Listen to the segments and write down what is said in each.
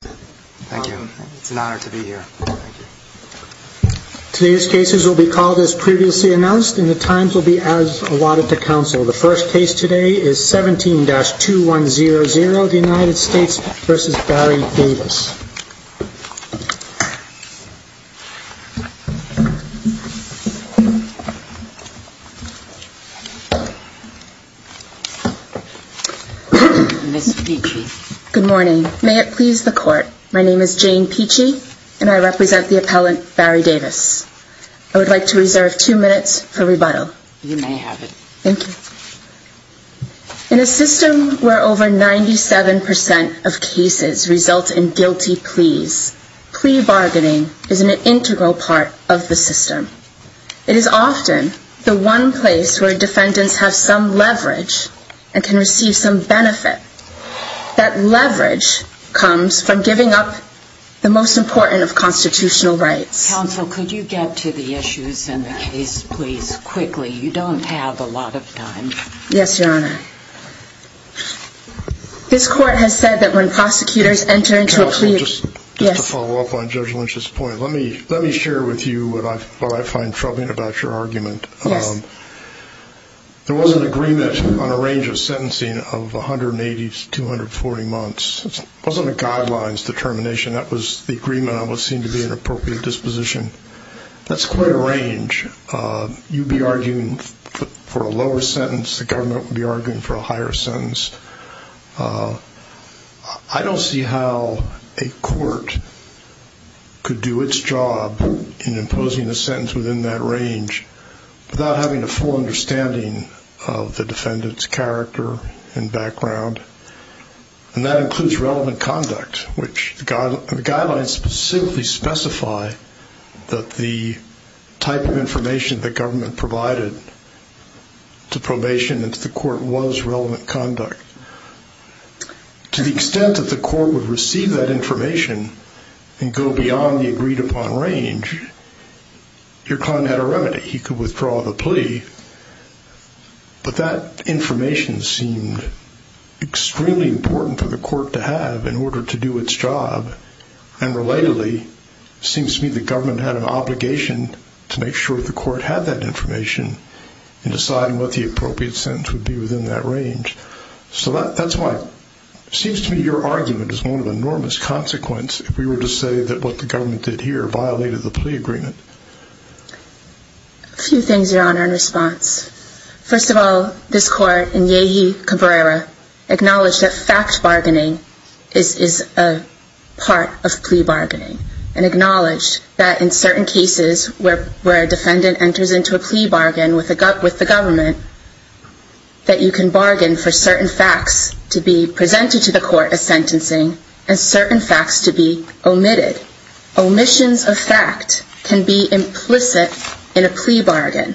Thank you. It's an honor to be here. Today's cases will be called as previously announced, and the times will be as allotted to counsel. The first case today is 17-2100, the United States v. Barry Davis. Ms. Peachy. Good morning. May it please the Court, my name is Jane Peachy, and I represent the appellant Barry Davis. I would like to reserve two minutes for rebuttal. You may have it. Thank you. In a system where over 97% of cases result in guilty pleas, plea bargaining is an integral part of the system. It is often the one place where defendants have some leverage and can receive some benefit. That leverage comes from giving up the most important of constitutional rights. Counsel, could you get to the issues in the case, please, quickly? You don't have a lot of time. Yes, Your Honor. This Court has said that when prosecutors enter into a plea... Counsel, just to follow up on Judge Lynch's point, let me share with you what I find troubling about your argument. Yes. There was an agreement on a range of sentencing of 180 to 240 months. It wasn't a guidelines determination. That was the agreement on what seemed to be an appropriate disposition. That's quite a range. You'd be arguing for a lower sentence, the government would be arguing for a higher sentence. I don't see how a court could do its job in imposing a sentence within that range without having a full understanding of the defendant's character and background. And that includes relevant conduct, which the guidelines specifically specify that the type of information the government provided to probation and to the court was relevant conduct. To the extent that the court would receive that information and go beyond the agreed-upon range, your client had a remedy. He could withdraw the plea. But that information seemed extremely important for the court to have in order to do its job. And relatedly, it seems to me the government had an obligation to make sure the court had that information in deciding what the appropriate sentence would be within that range. So that's why it seems to me your argument is one of enormous consequence if we were to say that what the government did here violated the plea agreement. A few things, Your Honor, in response. First of all, this court in Yehi Cabrera acknowledged that fact bargaining is a part of plea bargaining and acknowledged that in certain cases where a defendant enters into a plea bargain with the government, that you can bargain for certain facts to be presented to the court as sentencing and certain facts to be omitted. Omissions of fact can be implicit in a plea bargain.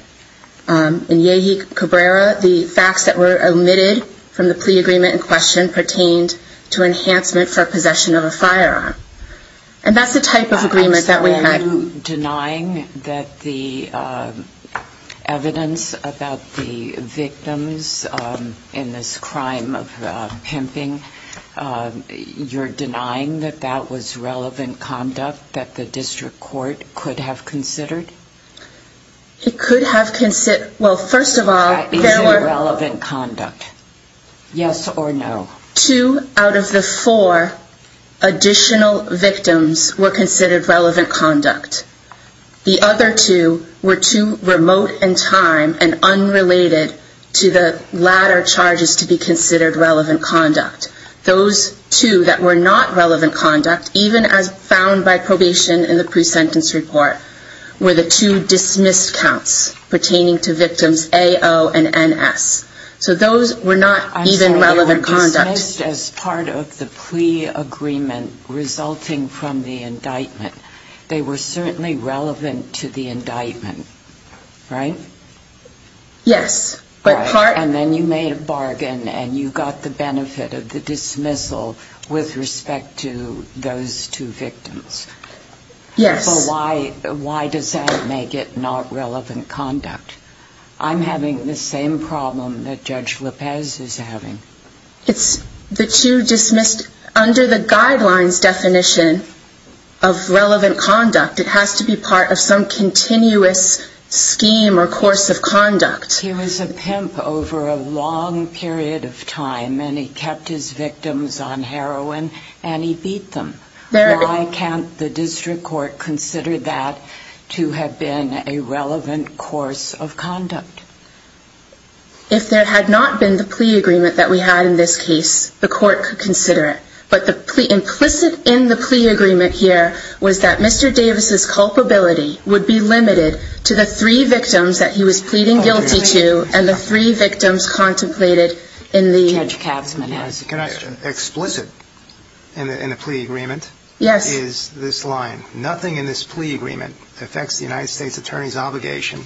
In Yehi Cabrera, the facts that were omitted from the plea agreement in question pertained to enhancement for possession of a firearm. And that's the type of agreement that we had. Are you denying that the evidence about the victims in this crime of pimping, you're denying that that was relevant conduct that the district court could have considered? It could have considered, well, first of all, there were... That is irrelevant conduct. Yes or no? Two out of the four additional victims were considered relevant conduct. The other two were too remote in time and unrelated to the latter charges to be considered relevant conduct. Those two that were not relevant conduct, even as found by probation in the pre-sentence report, were the two dismissed counts pertaining to victims A-O and N-S. So those were not even relevant conduct. As part of the plea agreement resulting from the indictment, they were certainly relevant to the indictment, right? Yes. And then you made a bargain and you got the benefit of the dismissal with respect to those two victims. Yes. So why does that make it not relevant conduct? I'm having the same problem that Judge Lopez is having. It's the two dismissed under the guidelines definition of relevant conduct. It has to be part of some continuous scheme or course of conduct. He was a pimp over a long period of time and he kept his victims on heroin and he beat them. Why can't the district court consider that to have been a relevant course of conduct? If there had not been the plea agreement that we had in this case, the court could consider it. But the implicit in the plea agreement here was that Mr. Davis's culpability would be limited to the three victims that he was pleading guilty to and the three victims contemplated in the plea agreement. Nothing in this plea agreement affects the United States Attorney's obligation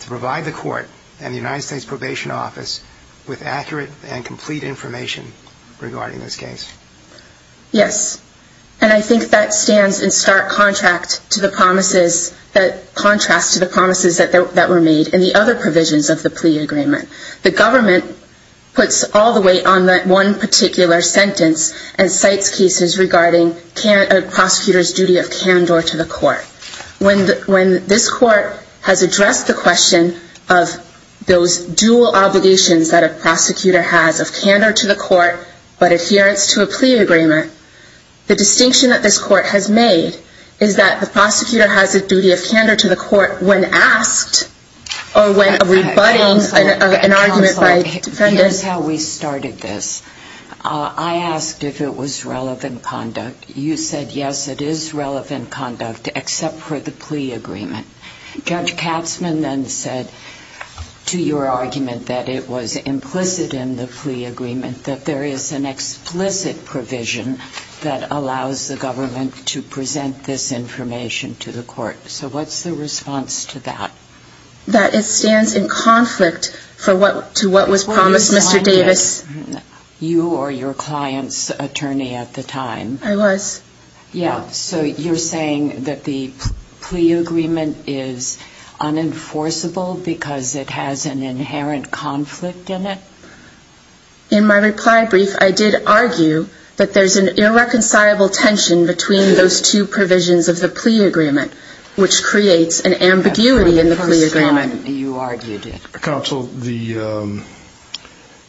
to provide the court and the United States Probation Office with accurate and complete information regarding this case. Yes. And I think that stands in stark contrast to the promises that were made in the other provisions of the plea agreement. The government puts all the weight on that one particular sentence and cites cases regarding a prosecutor's duty of candor to the court. When this court has addressed the question of those dual obligations that a prosecutor has of candor to the court but adherence to a plea agreement, the distinction that this court has made is that the prosecutor has a duty of candor to the court when asked or when rebutting an argument by defendants. Counsel, here's how we started this. I asked if it was relevant conduct. You said, yes, it is relevant conduct except for the plea agreement. Judge Katzmann then said to your argument that it was implicit in the plea agreement that there is an explicit provision that allows the government to present this information to the court. So what's the response to that? That it stands in conflict to what was promised, Mr. Davis. You were your client's attorney at the time. I was. So you're saying that the plea agreement is unenforceable because it has an inherent conflict in it? In my reply brief, I did argue that there's an irreconcilable tension between those two provisions of the plea agreement, which creates an ambiguity in the plea agreement. Counsel,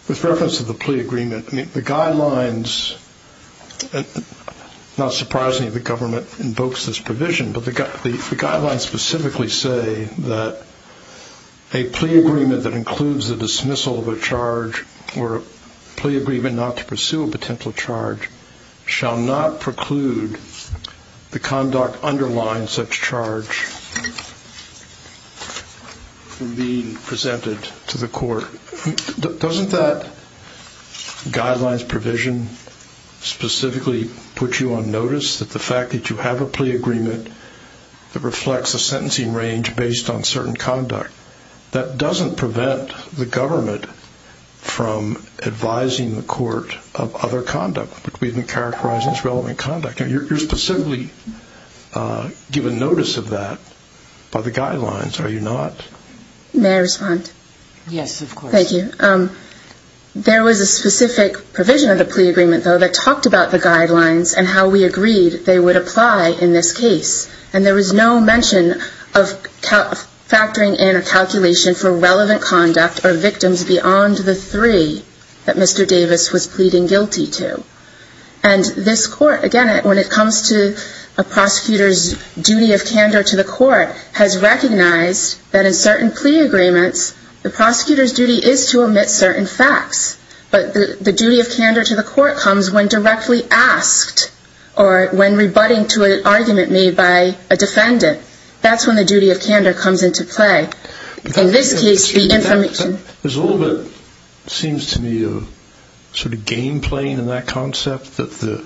with reference to the plea agreement, the guidelines, not surprisingly the government invokes this provision, but the guidelines specifically say that a plea agreement that includes the dismissal of a charge or a plea agreement not to pursue a potential charge shall not preclude the conduct underlying such charge from being presented to the court. Doesn't that guidelines provision specifically put you on notice that the fact that you have a plea agreement that reflects a sentencing range based on certain conduct, that doesn't prevent the government from advising the court of other conduct, which we've been characterizing as relevant conduct. You're specifically given notice of that by the guidelines, are you not? May I respond? Yes, of course. Thank you. There was a specific provision of the plea agreement, though, that talked about the guidelines and how we agreed they would apply in this case. And there was no mention of factoring in a calculation for relevant conduct or victims beyond the three that Mr. Davis was pleading guilty to. And this court, again, when it comes to a prosecutor's duty of candor to the court, has recognized that in certain plea agreements, the prosecutor's duty is to omit certain facts. But the duty of candor to the court comes when directly asked or when rebutting to an argument made by a defendant. That's when the duty of candor comes into play. In this case, the information... There's a little bit, it seems to me, of sort of game playing in that concept that the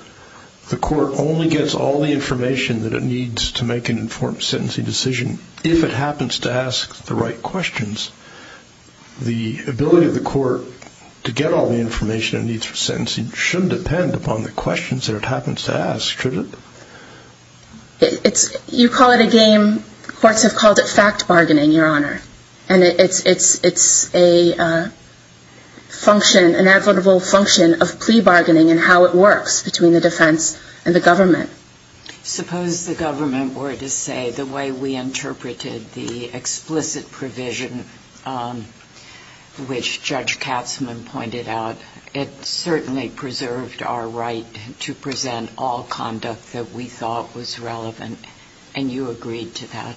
court only gets all the information that it needs to make an informed sentencing decision if it happens to ask the right questions. The ability of the court to get all the information it needs for sentencing shouldn't depend upon the questions that it happens to ask, should it? You call it a game. Courts have called it fact bargaining, Your Honor. And it's a function, inevitable function of plea bargaining and how it works between the defense and the government. Suppose the government were to say the way we interpreted the explicit provision, which Judge Katzmann pointed out, it certainly preserved our right to present all conduct that we thought was relevant, and you agreed to that.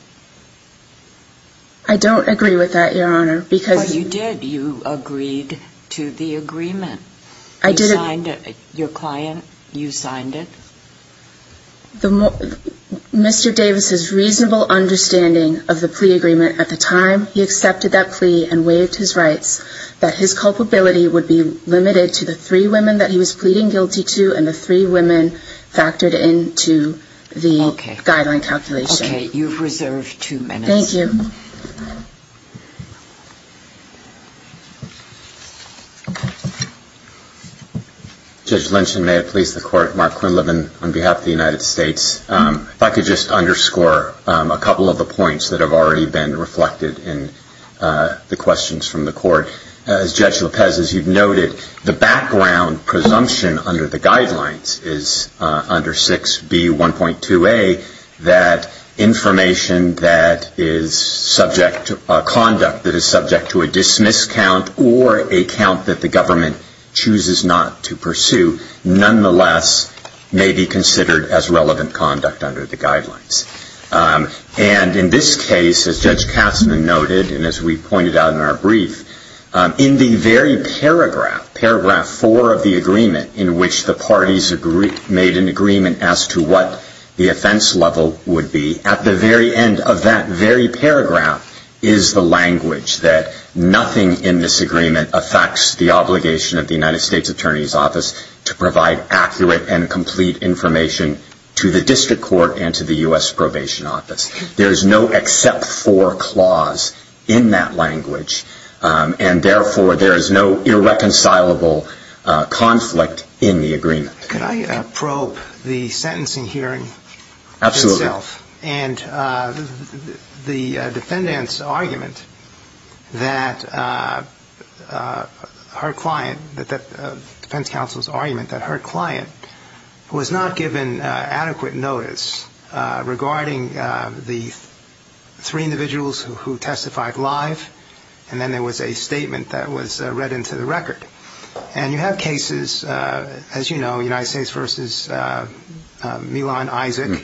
I don't agree with that, Your Honor. But you did. You agreed to the agreement. You signed it. Your client, you signed it. Mr. Davis's reasonable understanding of the plea agreement at the time, he accepted that plea and waived his rights, that his culpability would be limited to the three women that he was pleading guilty to and the three women factored into the guideline calculation. Okay. You've reserved two minutes. Thank you. Judge Lynch, and may it please the Court, Mark Quinlivan on behalf of the United States. If I could just underscore a couple of the points that have already been reflected in the questions from the Court. As Judge Lopez, as you've noted, the background presumption under the guidelines is under 6B1.2a that information that is subject to a conduct that is subject to a dismiss count or a count that the government chooses not to pursue, nonetheless may be considered as relevant conduct under the guidelines. And in this case, as Judge Katzmann noted, and as we pointed out in our brief, in the very paragraph, paragraph 4 of the agreement, in which the parties made an agreement as to what the offense level would be, at the very end of that very paragraph is the language that nothing in this agreement affects the obligation of the United States Attorney's Office to provide accurate and complete information to the District Court and to the U.S. Probation Office. There is no except for clause in that language, and therefore there is no irreconcilable conflict in the agreement. Can I probe the sentencing hearing itself? Absolutely. And the defendant's argument that her client, the defense counsel's argument that her client was not given adequate notice regarding the three individuals who testified live, and then there was a statement that was read into the record. And you have cases, as you know, United States v. Milan Isaac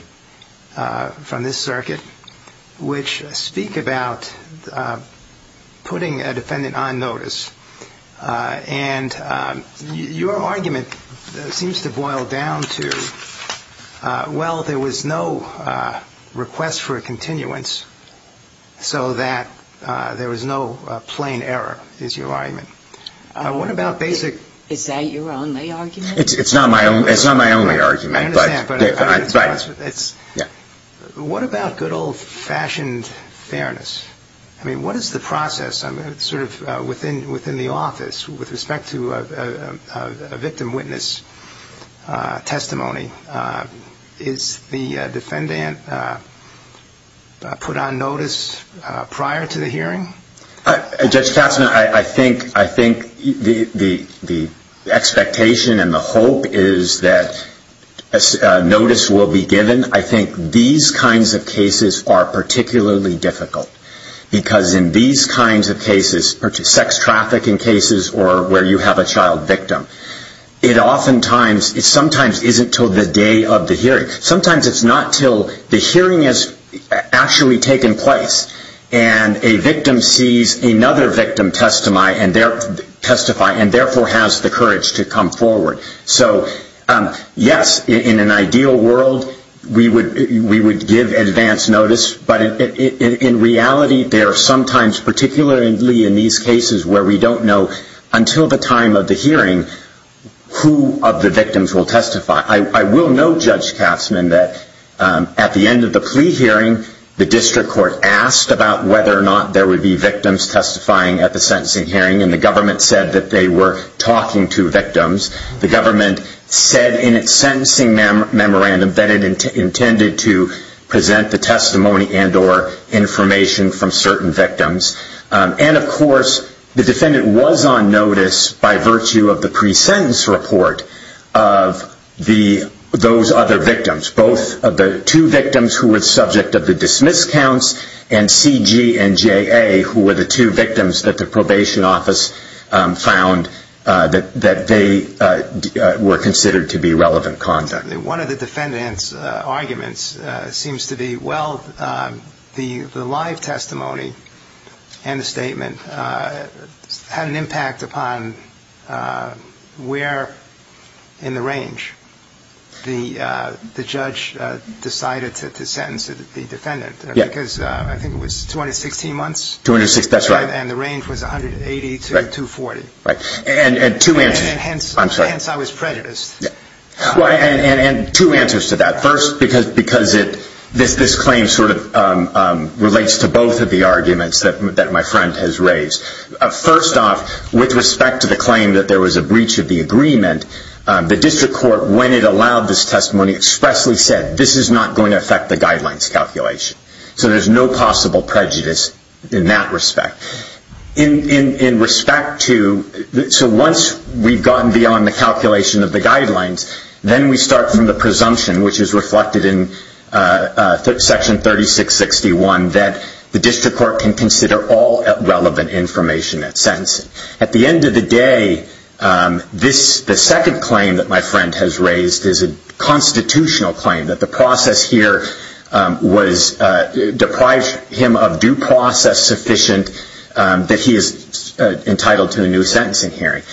from this circuit, which speak about putting a defendant on notice. And your argument seems to boil down to, well, there was no request for a continuance, so that there was no plain error, is your argument. What about basic? Is that your only argument? It's not my only argument. I understand, but what about good old-fashioned fairness? I mean, what is the process sort of within the office with respect to a victim witness testimony? Is the defendant put on notice prior to the hearing? Judge Katzmann, I think the expectation and the hope is that notice will be given. I think these kinds of cases are particularly difficult because in these kinds of cases, sex trafficking cases or where you have a child victim, it oftentimes, it sometimes isn't until the day of the hearing. Sometimes it's not until the hearing has actually taken place and a victim sees another victim testify and therefore has the courage to come forward. So, yes, in an ideal world, we would give advance notice, but in reality there are sometimes, particularly in these cases where we don't know, until the time of the hearing, who of the victims will testify. I will note, Judge Katzmann, that at the end of the plea hearing, the district court asked about whether or not there would be victims testifying at the sentencing hearing, and the government said that they were talking to victims. The government said in its sentencing memorandum that it intended to present the testimony and or information from certain victims. And, of course, the defendant was on notice by virtue of the pre-sentence report of those other victims, both of the two victims who were subject of the dismiss counts and C.G. and J.A., who were the two victims that the probation office found that they were considered to be relevant conduct. One of the defendant's arguments seems to be, well, the live testimony and the statement had an impact upon where in the range the judge decided to sentence the defendant. Because I think it was 216 months, and the range was 180 to 240, and hence I was prejudiced. And two answers to that. First, because this claim sort of relates to both of the arguments that my friend has raised. First off, with respect to the claim that there was a breach of the agreement, the district court, when it allowed this testimony, expressly said, this is not going to affect the guidelines calculation. So there's no possible prejudice in that respect. In respect to, so once we've gone beyond the calculation of the guidelines, then we start from the presumption, which is reflected in section 3661, that the district court can consider all relevant information at sentencing. At the end of the day, the second claim that my friend has raised is a constitutional claim, that the process here deprived him of due process sufficient that he is entitled to a new sentencing hearing.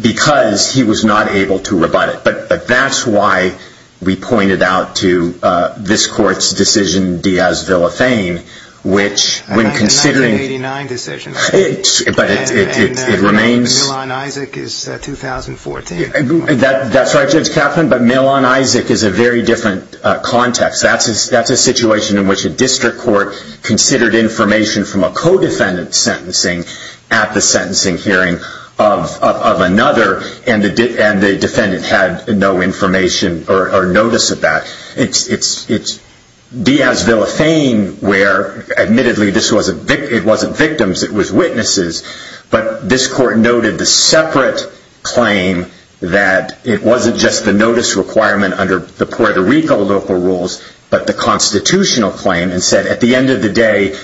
Because he was not able to rebut it. But that's why we pointed out to this court's decision, Diaz-Villafane, which when considering But it remains Milan-Isaac is 2014. That's right, Judge Kaplan, but Milan-Isaac is a very different context. That's a situation in which a district court considered information from a co-defendant's sentencing at the sentencing hearing of another, and the defendant had no information or notice of that. Diaz-Villafane, where admittedly it wasn't victims, it was witnesses, but this court noted the separate claim that it wasn't just the notice requirement under the Puerto Rico local rules, but the constitutional claim, and said at the end of the day,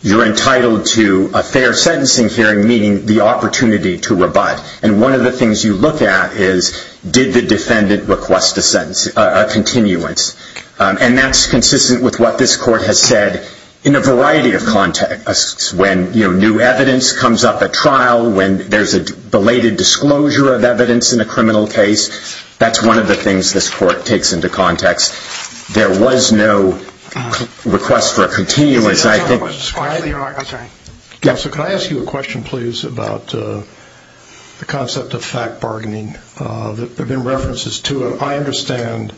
you're entitled to a fair sentencing hearing, meaning the opportunity to rebut. And one of the things you look at is, did the defendant request a continuance? And that's consistent with what this court has said in a variety of contexts. When new evidence comes up at trial, when there's a belated disclosure of evidence in a criminal case, that's one of the things this court takes into context. There was no request for a continuance. Counsel, can I ask you a question, please, about the concept of fact bargaining? There have been references to it. I understand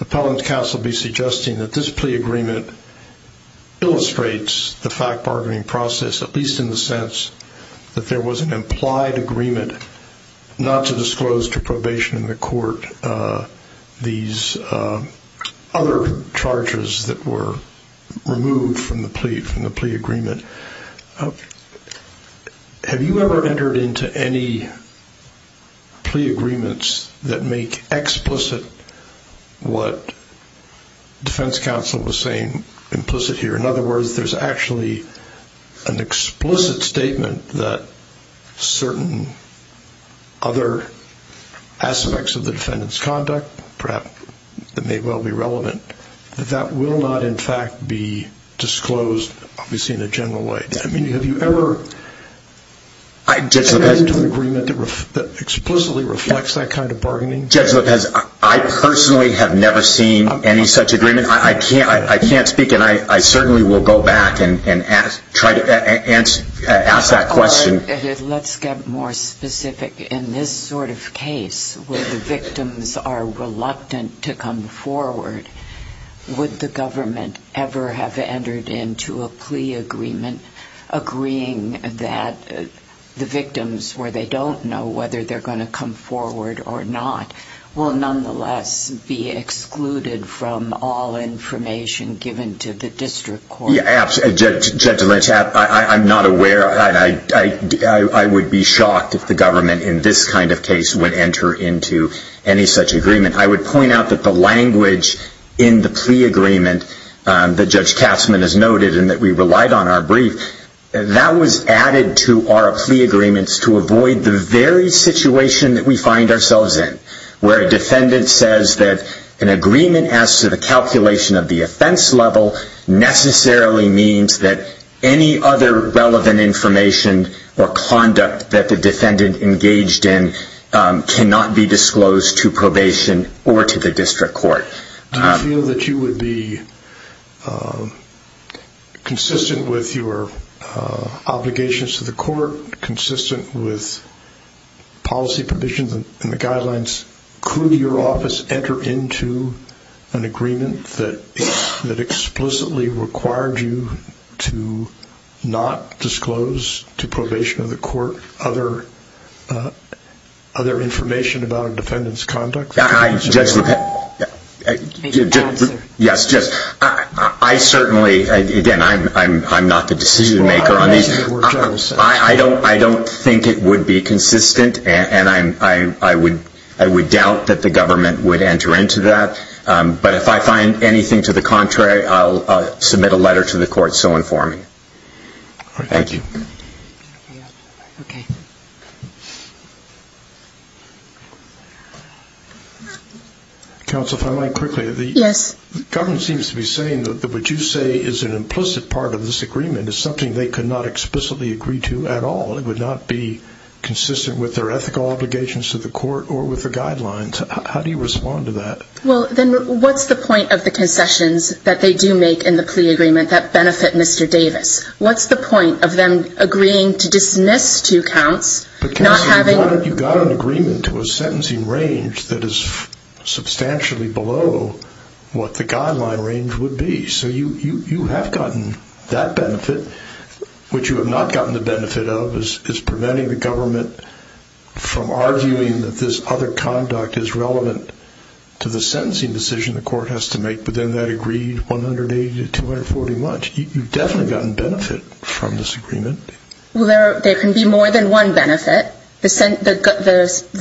Appellant Counsel be suggesting that this plea agreement illustrates the fact bargaining process, at least in the sense that there was an implied agreement not to disclose to probation in the court these other charges that were removed from the plea agreement. Have you ever entered into any plea agreements that make explicit what defense counsel was saying implicit here? In other words, there's actually an explicit statement that certain other aspects of the defendant's conduct, perhaps that may well be relevant, that that will not in fact be disclosed, obviously in a general way. I mean, have you ever entered into an agreement that explicitly reflects that kind of bargaining? Judge Lopez, I personally have never seen any such agreement. I can't speak, and I certainly will go back and try to ask that question. Let's get more specific. In this sort of case where the victims are reluctant to come forward, would the government ever have entered into a plea agreement agreeing that the victims, where they don't know whether they're going to come forward or not, will nonetheless be excluded from all information given to the district court? Yeah, absolutely. Judge Lynch, I'm not aware. I would be shocked if the government in this kind of case would enter into any such agreement. I would point out that the language in the plea agreement that Judge Katzmann has noted and that we relied on our brief, that was added to our plea agreements to avoid the very situation that we find ourselves in, where a defendant says that an agreement as to the calculation of the offense level necessarily means that any other relevant information or conduct that the defendant engaged in cannot be disclosed to probation or to the district court. Do you feel that you would be consistent with your obligations to the court, consistent with policy provisions and the guidelines? Could your office enter into an agreement that explicitly required you to not disclose to probation or the court other information about a defendant's conduct? I certainly, again, I'm not the decision maker on these. I don't think it would be consistent, and I would doubt that the government would enter into that. But if I find anything to the contrary, I'll submit a letter to the court so informing. Thank you. Counsel, if I might quickly. Yes. The government seems to be saying that what you say is an implicit part of this agreement and is something they could not explicitly agree to at all. It would not be consistent with their ethical obligations to the court or with the guidelines. How do you respond to that? Well, then what's the point of the concessions that they do make in the plea agreement that benefit Mr. Davis? What's the point of them agreeing to dismiss two counts, not having? Counsel, you've got an agreement to a sentencing range that is substantially below what the guideline range would be. So you have gotten that benefit. What you have not gotten the benefit of is preventing the government from arguing that this other conduct is relevant to the sentencing decision the court has to make, but then that agreed 180 to 240-much. You've definitely gotten benefit from this agreement. Well, there can be more than one benefit. The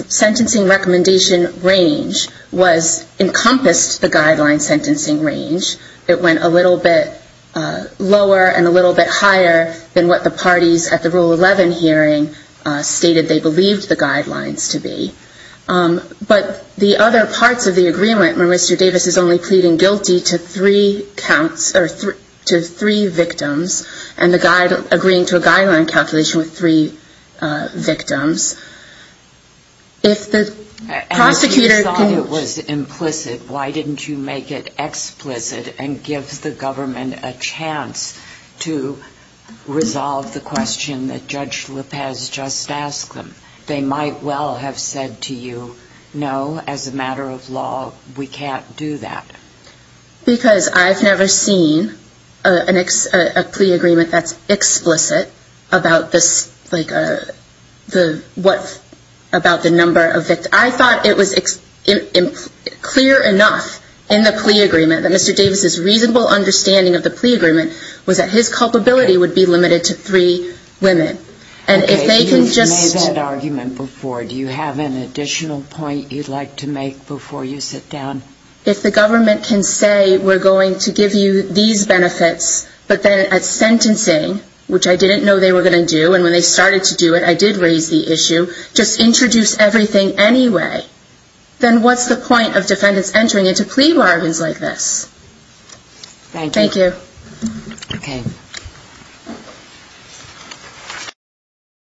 sentencing recommendation range encompassed the guideline sentencing range. It went a little bit lower and a little bit higher than what the parties at the Rule 11 hearing stated they believed the guidelines to be. But the other parts of the agreement where Mr. Davis is only pleading guilty to three victims and agreeing to a guideline calculation with three victims, if the prosecutor can... and gives the government a chance to resolve the question that Judge Lopez just asked them, they might well have said to you, no, as a matter of law, we can't do that. Because I've never seen a plea agreement that's explicit about the number of victims. I thought it was clear enough in the plea agreement that Mr. Davis's reasonable understanding of the plea agreement was that his culpability would be limited to three women. And if they can just... Okay, you've made that argument before. Do you have an additional point you'd like to make before you sit down? If the government can say we're going to give you these benefits, but then at sentencing, which I didn't know they were going to do, and when they started to do it, I did raise the issue, just introduce everything anyway, then what's the point of defendants entering into plea bargains like this? Thank you. Thank you. Okay.